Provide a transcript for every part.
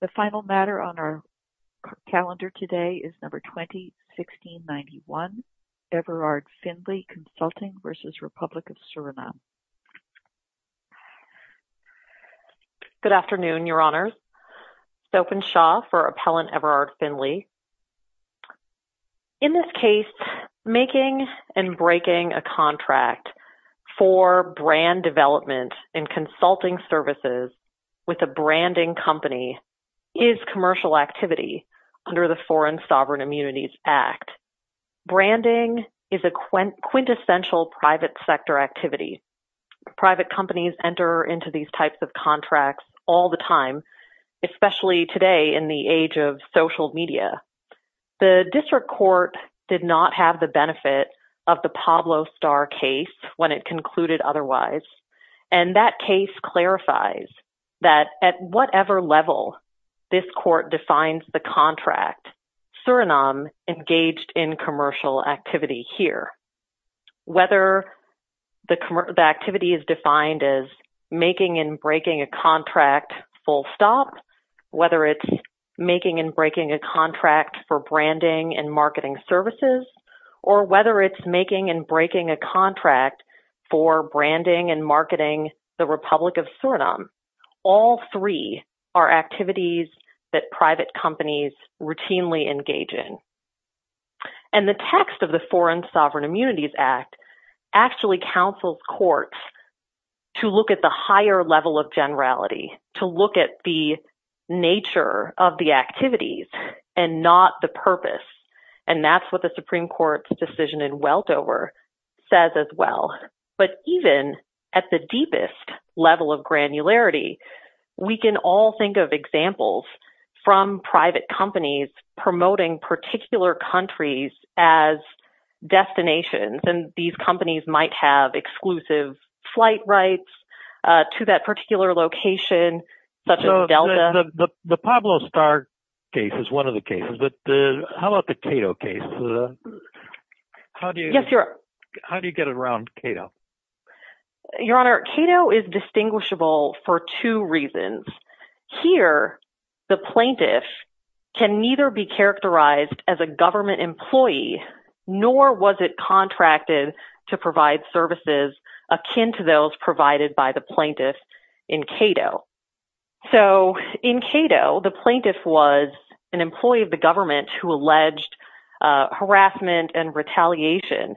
The final matter on our calendar today is number 2016-91, Everard Findlay Consulting v. Republic of Suriname. Good afternoon, Your Honors. Sophan Shaw for Appellant Everard Findlay. In this case, making and breaking a contract for brand development and consulting services with a branding company is commercial activity under the Foreign Sovereign Immunities Act. Branding is a quintessential private sector activity. Private companies enter into these types of contracts all the time, especially today in the age of social media. The district court did not have the benefit of the Pablo Starr case when it concluded otherwise. And that case clarifies that at whatever level this court defines the contract, Suriname engaged in commercial activity here. Whether the activity is defined as making and breaking a contract full stop, whether it's making and breaking a contract for branding and marketing services, or whether it's making and breaking a contract for branding and marketing the Republic of Suriname, all three are activities that private companies routinely engage in. And the text of the Foreign Sovereign Immunities Act actually counsels courts to look at the higher level of generality, to look at the nature of the activities and not the purpose. And that's what the Supreme Court's decision in Weltover says as well. But even at the deepest level of granularity, we can all think of examples from private companies promoting particular countries as destinations. And these companies might have exclusive flight rights to that particular location, such as Delta. The Pablo Starr case is one of the cases, but how about the Cato case? How do you get around Cato? Your Honor, Cato is distinguishable for two reasons. Here, the plaintiff can neither be characterized as a government employee, nor was it contracted to provide services akin to those provided by the plaintiff in Cato. So, in Cato, the plaintiff was an employee of the government who alleged harassment and retaliation.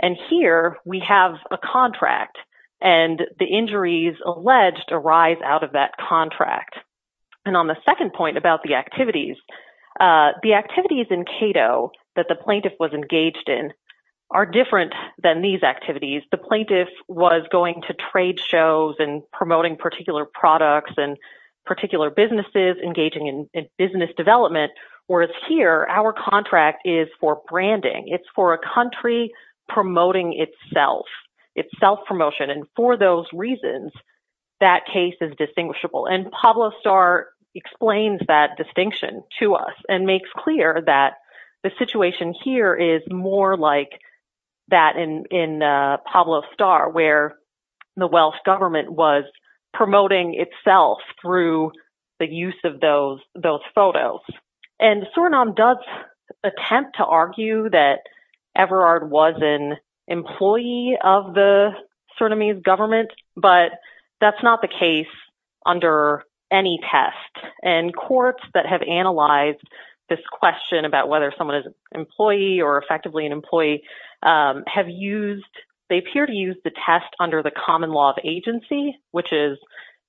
And here, we have a contract, and the injuries alleged arise out of that contract. And on the second point about the activities, the activities in Cato that the plaintiff was engaged in are different than these activities. The plaintiff was going to trade shows and promoting particular products and particular businesses, engaging in business development. Whereas here, our contract is for branding. It's for a country promoting itself. It's self-promotion. And for those reasons, that case is distinguishable. And Pablo Starr explains that distinction to us and makes clear that the situation here is more like that in Pablo Starr, where the Welsh government was promoting itself through the use of those photos. And Surinam does attempt to argue that Everard was an employee of the Surinamese government, but that's not the case under any test. And courts that have analyzed this question about whether someone is an employee or effectively an employee have used – they appear to use the test under the common law of agency, which is,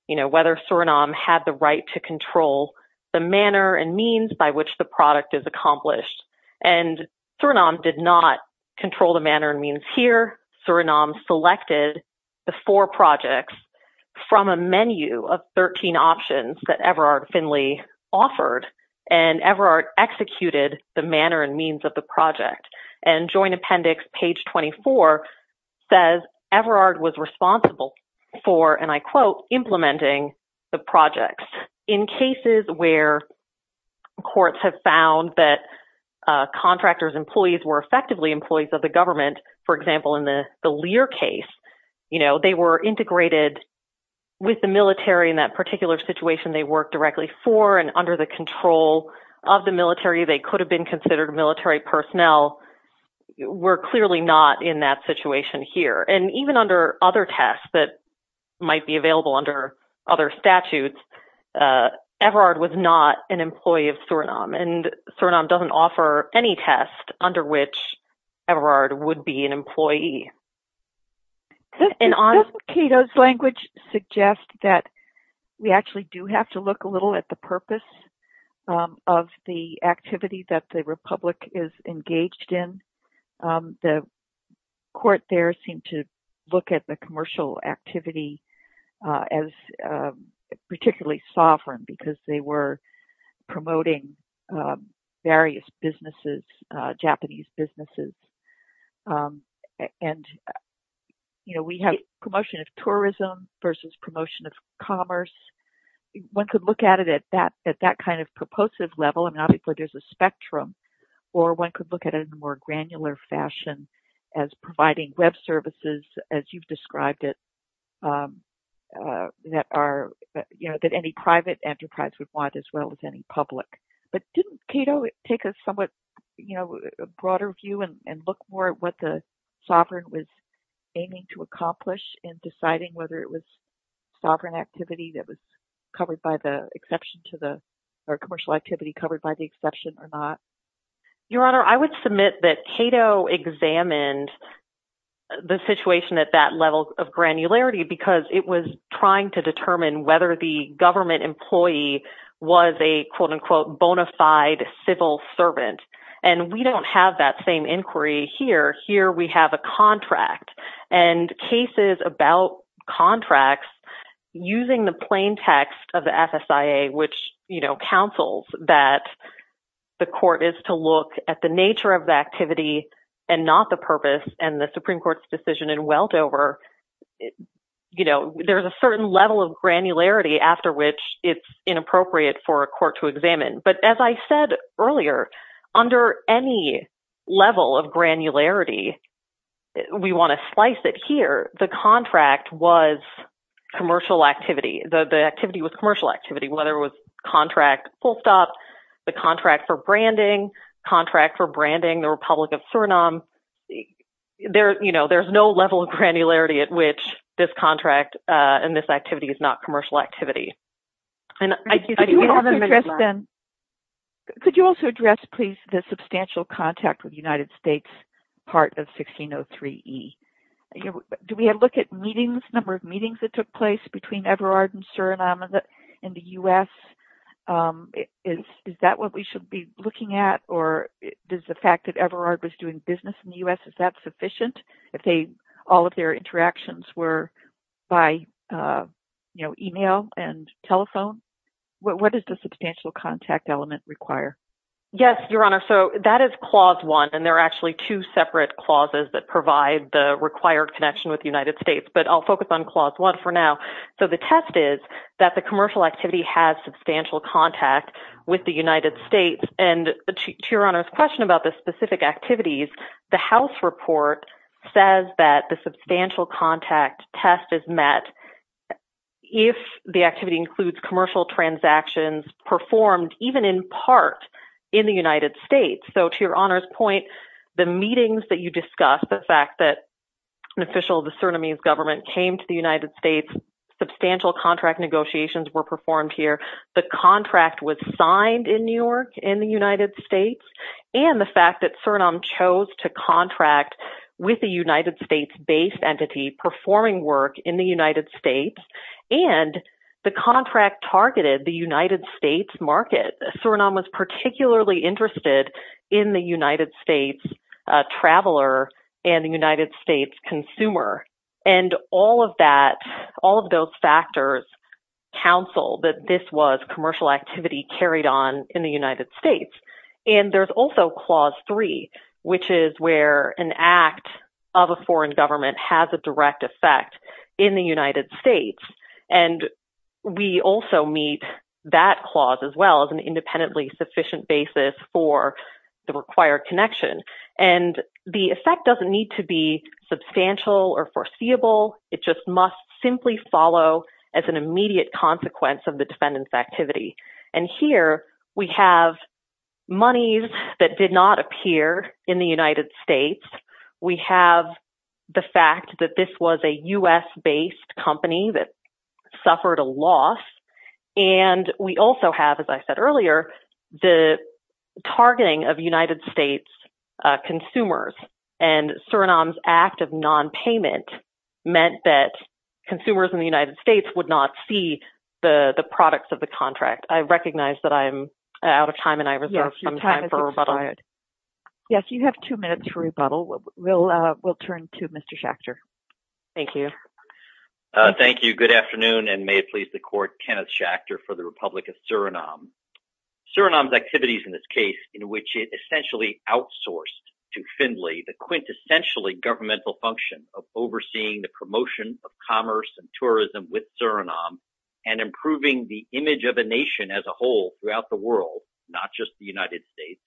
you know, whether Surinam had the right to control the manner and means by which the product is accomplished. And Surinam did not control the manner and means here. Surinam selected the four projects from a menu of 13 options that Everard Finlay offered, and Everard executed the manner and means of the project. And Joint Appendix, page 24, says Everard was responsible for, and I quote, implementing the projects. In cases where courts have found that contractors' employees were effectively employees of the government, for example, in the Lear case, you know, they were integrated with the military in that particular situation they worked directly for. And under the control of the military, they could have been considered military personnel. We're clearly not in that situation here. And even under other tests that might be available under other statutes, Everard was not an employee of Surinam, and Surinam doesn't offer any test under which Everard would be an employee. Doesn't Cato's language suggest that we actually do have to look a little at the purpose of the activity that the Republic is engaged in? The court there seemed to look at the commercial activity as particularly sovereign because they were promoting various businesses, Japanese businesses. And, you know, we have promotion of tourism versus promotion of commerce. One could look at it at that kind of purposive level, and obviously there's a spectrum, or one could look at it in a more granular fashion as providing web services, as you've described it, that any private enterprise would want as well as any public. But didn't Cato take a somewhat, you know, broader view and look more at what the sovereign was aiming to accomplish in deciding whether it was sovereign activity that was covered by the exception to the – or commercial activity covered by the exception or not? Your Honor, I would submit that Cato examined the situation at that level of granularity because it was trying to determine whether the government employee was a, quote-unquote, bona fide civil servant. And we don't have that same inquiry here. Here we have a contract. And cases about contracts, using the plain text of the FSIA, which, you know, counsels that the court is to look at the nature of the activity and not the purpose and the Supreme Court's decision in Weldover, you know, there's a certain level of granularity after which it's inappropriate for a court to examine. But as I said earlier, under any level of granularity, we want to slice it here. The contract was commercial activity. The activity was commercial activity, whether it was contract full stop, the contract for branding, contract for branding the Republic of Suriname. You know, there's no level of granularity at which this contract and this activity is not commercial activity. And I – Yes, Your Honor. So that is Clause 1. And there are actually two separate clauses that provide the required connection with the United States. But I'll focus on Clause 1 for now. So the test is that the commercial activity has substantial contact with the United States. And to Your Honor's question about the specific activities, the House report says that the substantial contact test is met if the activity includes commercial transactions performed even in part in the United States. So to Your Honor's point, the meetings that you discussed, the fact that an official of the Surinamese government came to the United States, substantial contract negotiations were performed here, the contract was signed in New York in the United States, and the fact that Suriname chose to contract with a United States-based entity performing work in the United States, and the contract targeted the United States market. And Suriname was particularly interested in the United States traveler and the United States consumer. And all of that, all of those factors counsel that this was commercial activity carried on in the United States. And there's also Clause 3, which is where an act of a foreign government has a direct effect in the United States. And we also meet that clause as well as an independently sufficient basis for the required connection. And the effect doesn't need to be substantial or foreseeable. It just must simply follow as an immediate consequence of the defendant's activity. And here we have monies that did not appear in the United States. We have the fact that this was a U.S.-based company that suffered a loss. And we also have, as I said earlier, the targeting of United States consumers. And Suriname's act of nonpayment meant that consumers in the United States would not see the products of the contract. I recognize that I'm out of time and I reserve some time for rebuttal. Yes, you have two minutes for rebuttal. We'll turn to Mr. Schachter. Thank you. Thank you. Good afternoon, and may it please the Court, Kenneth Schachter for the Republic of Suriname. Suriname's activities in this case, in which it essentially outsourced to Findlay the quintessentially governmental function of overseeing the promotion of commerce and tourism with Suriname and improving the image of a nation as a whole throughout the world, not just the United States,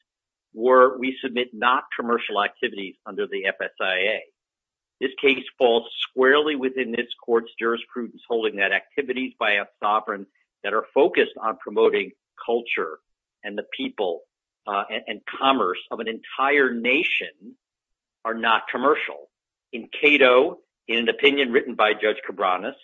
were, we submit, not commercial activities under the FSIA. This case falls squarely within this court's jurisprudence, holding that activities by a sovereign that are focused on promoting culture and the people and commerce of an entire nation are not commercial. In Cato, in an opinion written by Judge Cabranes,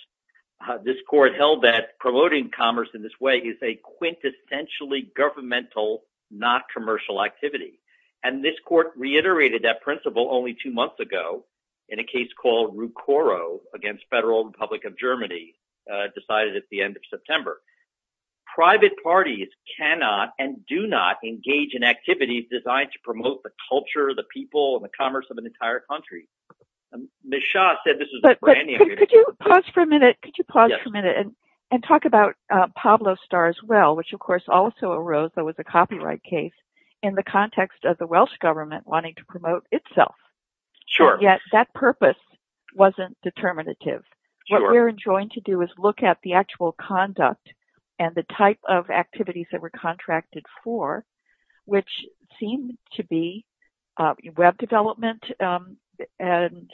this court held that promoting commerce in this way is a quintessentially governmental, not commercial activity. And this court reiterated that principle only two months ago in a case called Rucoro against Federal Republic of Germany, decided at the end of September. Private parties cannot and do not engage in activities designed to promote the culture, the people, and the commerce of an entire country. Could you pause for a minute? Could you pause for a minute and talk about Pablo Star as well, which, of course, also arose that was a copyright case in the context of the Welsh government wanting to promote itself. That purpose wasn't determinative. What we're enjoying to do is look at the actual conduct and the type of activities that were contracted for, which seem to be web development and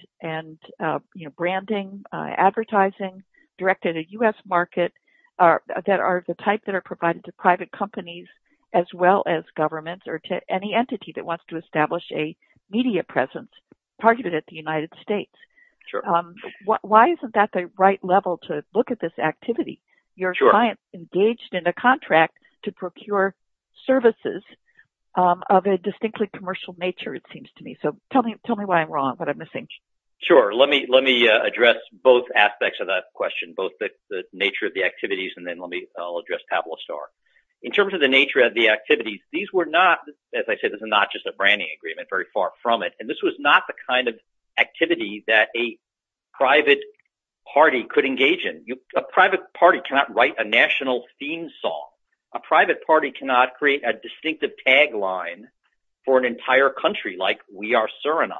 branding, advertising, directed at US market, that are the type that are provided to private companies as well as governments or to any entity that wants to establish a media presence. Targeted at the United States. Sure. Why isn't that the right level to look at this activity? Your client engaged in a contract to procure services of a distinctly commercial nature, it seems to me. So tell me why I'm wrong, what I'm missing. Sure. Let me address both aspects of that question, both the nature of the activities, and then I'll address Pablo Star. In terms of the nature of the activities, these were not, as I said, this is not just a branding agreement, very far from it. And this was not the kind of activity that a private party could engage in. A private party cannot write a national theme song. A private party cannot create a distinctive tagline for an entire country like we are Suriname.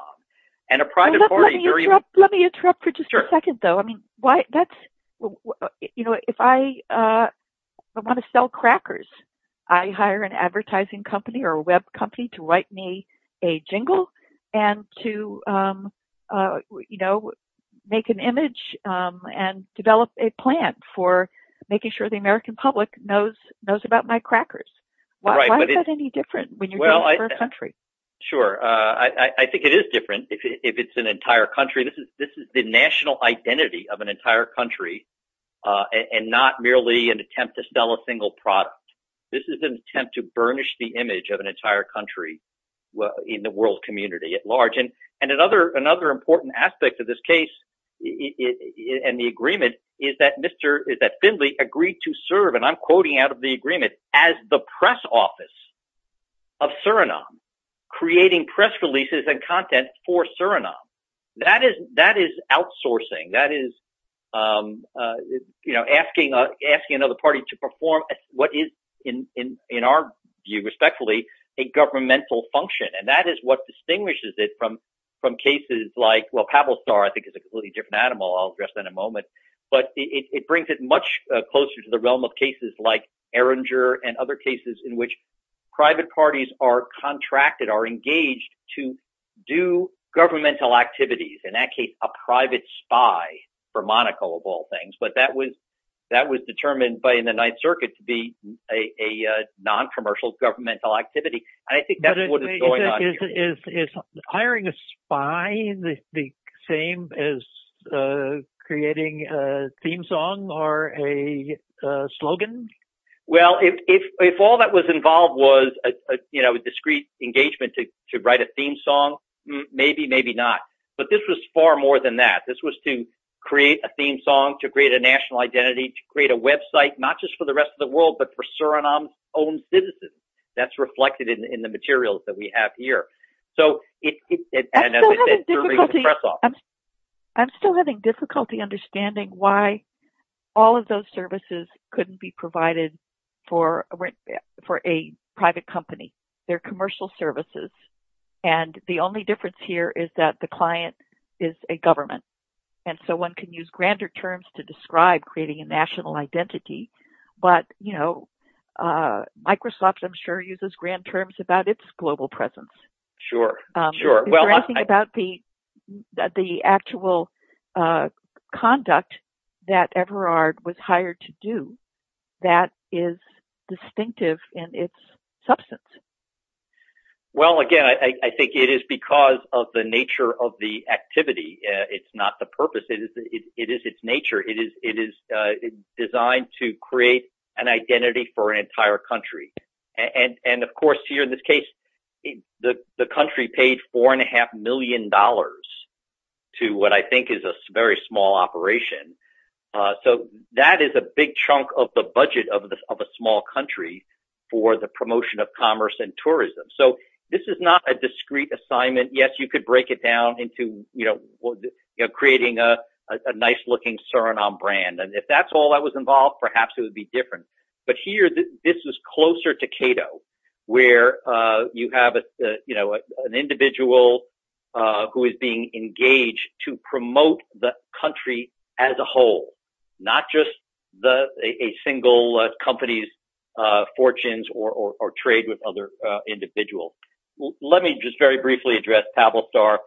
Let me interrupt for just a second, though. If I want to sell crackers, I hire an advertising company or a web company to write me a jingle and to make an image and develop a plan for making sure the American public knows about my crackers. Why is that any different when you're doing it for a country? Sure. I think it is different if it's an entire country. This is the national identity of an entire country and not merely an attempt to sell a single product. This is an attempt to burnish the image of an entire country in the world community at large. Another important aspect of this case and the agreement is that Finley agreed to serve, and I'm quoting out of the agreement, as the press office of Suriname, creating press releases and content for Suriname. That is outsourcing. That is asking another party to perform what is in our view, respectfully, a governmental function. And that is what distinguishes it from cases like, well, Pavel Star, I think, is a completely different animal. I'll address that in a moment. But it brings it much closer to the realm of cases like Erringer and other cases in which private parties are contracted, are engaged to do governmental activities, in that case a private spy for Monaco of all things. But that was determined by the Ninth Circuit to be a noncommercial governmental activity. Is hiring a spy the same as creating a theme song or a slogan? Well, if all that was involved was a discreet engagement to write a theme song, maybe, maybe not. But this was far more than that. This was to create a theme song, to create a national identity, to create a website, not just for the rest of the world, but for Suriname's own citizens. That's reflected in the materials that we have here. I'm still having difficulty understanding why all of those services couldn't be provided for a private company. They're commercial services. And the only difference here is that the client is a government. And so one can use grander terms to describe creating a national identity. But, you know, Microsoft, I'm sure, uses grand terms about its global presence. Sure, sure. Is there anything about the actual conduct that Everard was hired to do that is distinctive in its substance? Well, again, I think it is because of the nature of the activity. It's not the purpose. It is its nature. It is designed to create an identity for an entire country. And of course, here in this case, the country paid four and a half million dollars to what I think is a very small operation. So that is a big chunk of the budget of a small country for the promotion of commerce and tourism. So this is not a discrete assignment. Yes, you could break it down into creating a nice looking Suriname brand. And if that's all that was involved, perhaps it would be different. But here this is closer to Cato, where you have an individual who is being engaged to promote the country as a whole, not just a single company's fortunes or trade with other individuals. Let me just very briefly address Tablestar.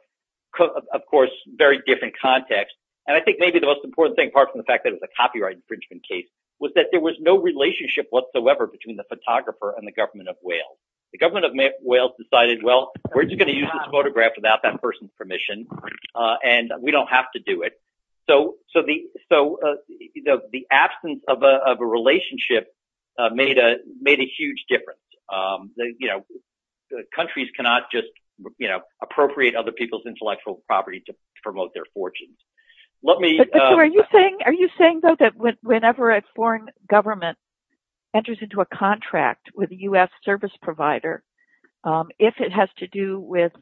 Of course, very different context. And I think maybe the most important thing, apart from the fact that it's a copyright infringement case, was that there was no relationship whatsoever between the photographer and the government of Wales. The government of Wales decided, well, we're just going to use this photograph without that person's permission and we don't have to do it. So so the so the absence of a relationship made a made a huge difference. Countries cannot just appropriate other people's intellectual property to promote their fortunes. Are you saying, are you saying, though, that whenever a foreign government enters into a contract with a U.S. service provider, if it has to do with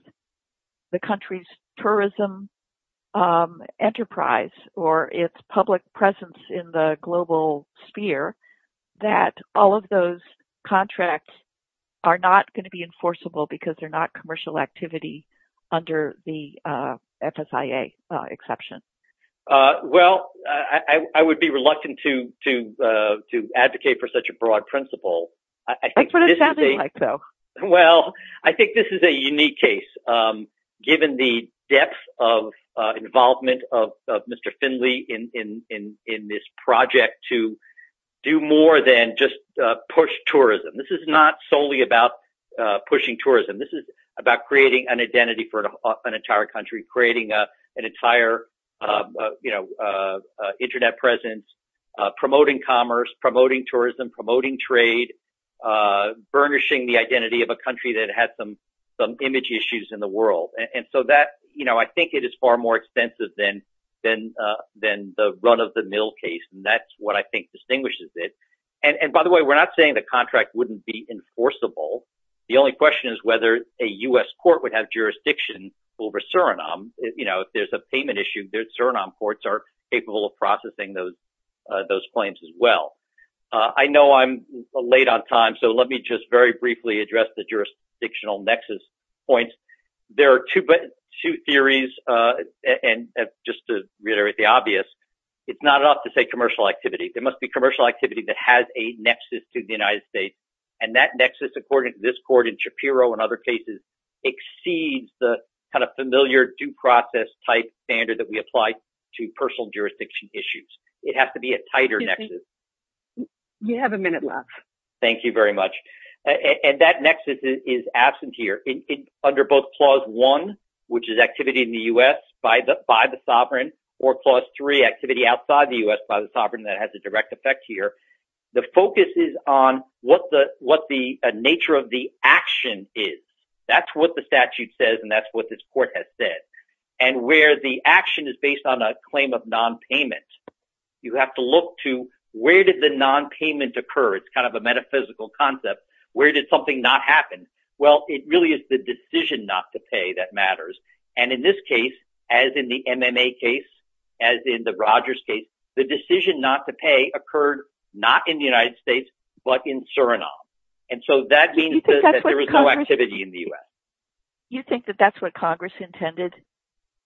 the country's tourism enterprise or its public presence in the global sphere, that all of those contracts are not going to be enforceable because they're not commercial activity under the FSIA exception? Well, I would be reluctant to to to advocate for such a broad principle. I think so. Well, I think this is a unique case, given the depth of involvement of Mr. Finley in in in this project to do more than just push tourism. This is not solely about pushing tourism. This is about creating an identity for an entire country, creating an entire Internet presence, promoting commerce, promoting tourism, promoting trade, burnishing the identity of a country that had some some image issues in the world. And so that, you know, I think it is far more expensive than than than the run of the mill case. And that's what I think distinguishes it. And by the way, we're not saying the contract wouldn't be enforceable. The only question is whether a U.S. court would have jurisdiction over Suriname. You know, if there's a payment issue there, Suriname courts are capable of processing those those claims as well. I know I'm late on time, so let me just very briefly address the jurisdictional nexus points. There are two theories. And just to reiterate the obvious, it's not enough to say commercial activity. There must be commercial activity that has a nexus to the United States. And that nexus, according to this court in Shapiro and other cases, exceeds the kind of familiar due process type standard that we apply to personal jurisdiction issues. It has to be a tighter nexus. You have a minute left. Thank you very much. And that nexus is absent here under both clause one, which is activity in the U.S. by the by the sovereign or clause three activity outside the U.S. by the sovereign. That has a direct effect here. The focus is on what the what the nature of the action is. That's what the statute says. And that's what this court has said. And where the action is based on a claim of nonpayment. You have to look to where did the nonpayment occur? It's kind of a metaphysical concept. Where did something not happen? Well, it really is the decision not to pay that matters. And in this case, as in the MMA case, as in the Rogers case, the decision not to pay occurred not in the United States, but in Suriname. And so that means that there is no activity in the U.S. You think that that's what Congress intended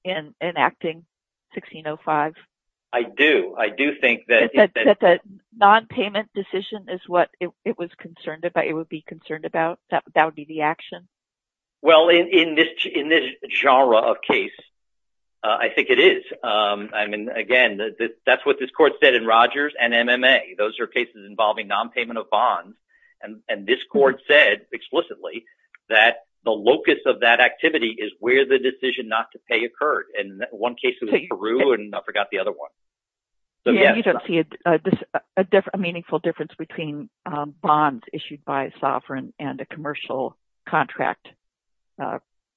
in enacting 1605? I do. I do think that the nonpayment decision is what it was concerned about. It would be concerned about that would be the action. Well, in this in this genre of case, I think it is. I mean, again, that's what this court said in Rogers and MMA. Those are cases involving nonpayment of bonds. And this court said explicitly that the locus of that activity is where the decision not to pay occurred. And one case was Peru and I forgot the other one. You don't see a different meaningful difference between bonds issued by a sovereign and a commercial contract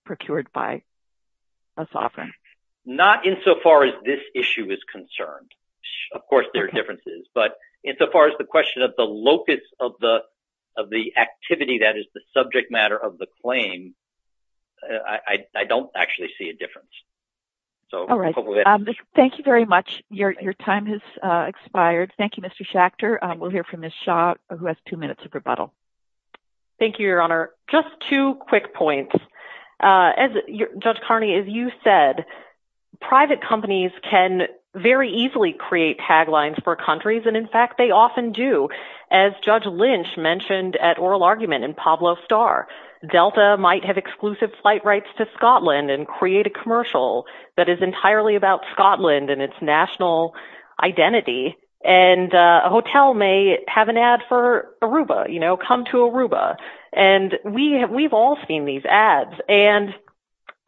procured by a sovereign. Not insofar as this issue is concerned. Of course, there are differences. But insofar as the question of the locus of the of the activity, that is the subject matter of the claim, I don't actually see a difference. So thank you very much. Your time has expired. Thank you, Mr. Schachter. We'll hear from this shot who has two minutes of rebuttal. Thank you, Your Honor. Just two quick points. Judge Carney, as you said, private companies can very easily create taglines for countries. And in fact, they often do. As Judge Lynch mentioned at oral argument in Pablo Star, Delta might have exclusive flight rights to Scotland and create a commercial that is entirely about Scotland and its national identity. And a hotel may have an ad for Aruba, you know, come to Aruba. And we have we've all seen these ads. And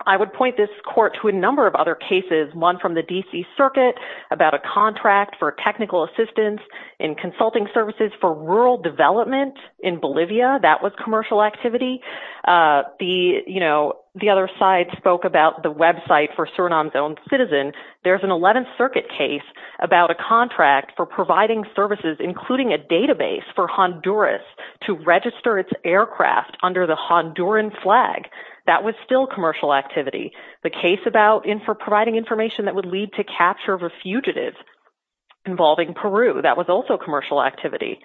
I would point this court to a number of other cases. One from the D.C. circuit about a contract for technical assistance in consulting services for rural development in Bolivia. That was commercial activity. The you know, the other side spoke about the website for Surinam's own citizen. There's an 11th Circuit case about a contract for providing services, including a database for Honduras to register its aircraft under the Honduran flag. That was still commercial activity. The case about in for providing information that would lead to capture of a fugitive involving Peru. That was also commercial activity.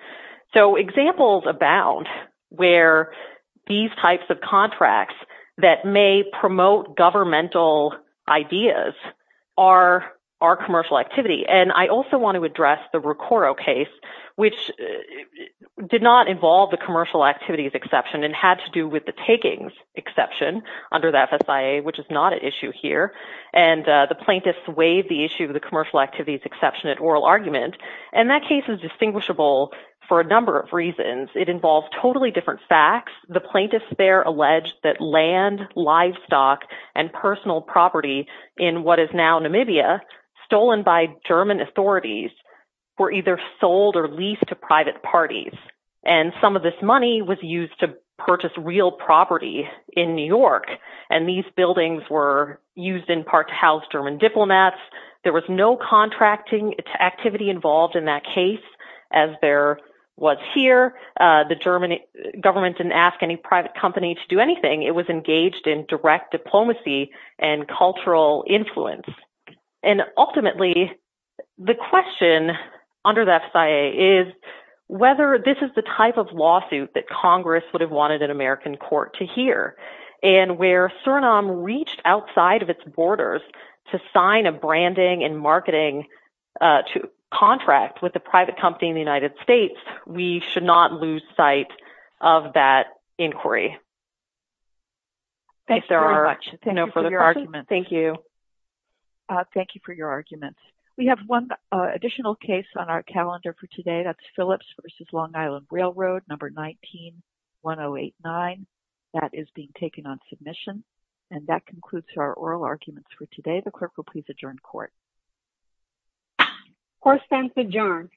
So examples abound where these types of contracts that may promote governmental ideas are are commercial activity. And I also want to address the recoro case, which did not involve the commercial activities exception and had to do with the takings exception under the FSA, which is not an issue here. And the plaintiffs waived the issue of the commercial activities exception at oral argument. And that case is distinguishable for a number of reasons. It involves totally different facts. The plaintiffs there alleged that land, livestock and personal property in what is now Namibia stolen by German authorities were either sold or leased to private parties. And some of this money was used to purchase real property in New York. And these buildings were used in part to house German diplomats. There was no contracting activity involved in that case, as there was here. The German government didn't ask any private company to do anything. It was engaged in direct diplomacy and cultural influence. And ultimately, the question under the FSA is whether this is the type of lawsuit that Congress would have wanted an American court to hear. And where Suriname reached outside of its borders to sign a branding and marketing contract with a private company in the United States, we should not lose sight of that inquiry. Thank you very much. Thank you for your arguments. Thank you. Thank you for your arguments. We have one additional case on our calendar for today. That's Phillips v. Long Island Railroad, number 19-1089. That is being taken on submission. And that concludes our oral arguments for today. The clerk will please adjourn court. Court stands adjourned.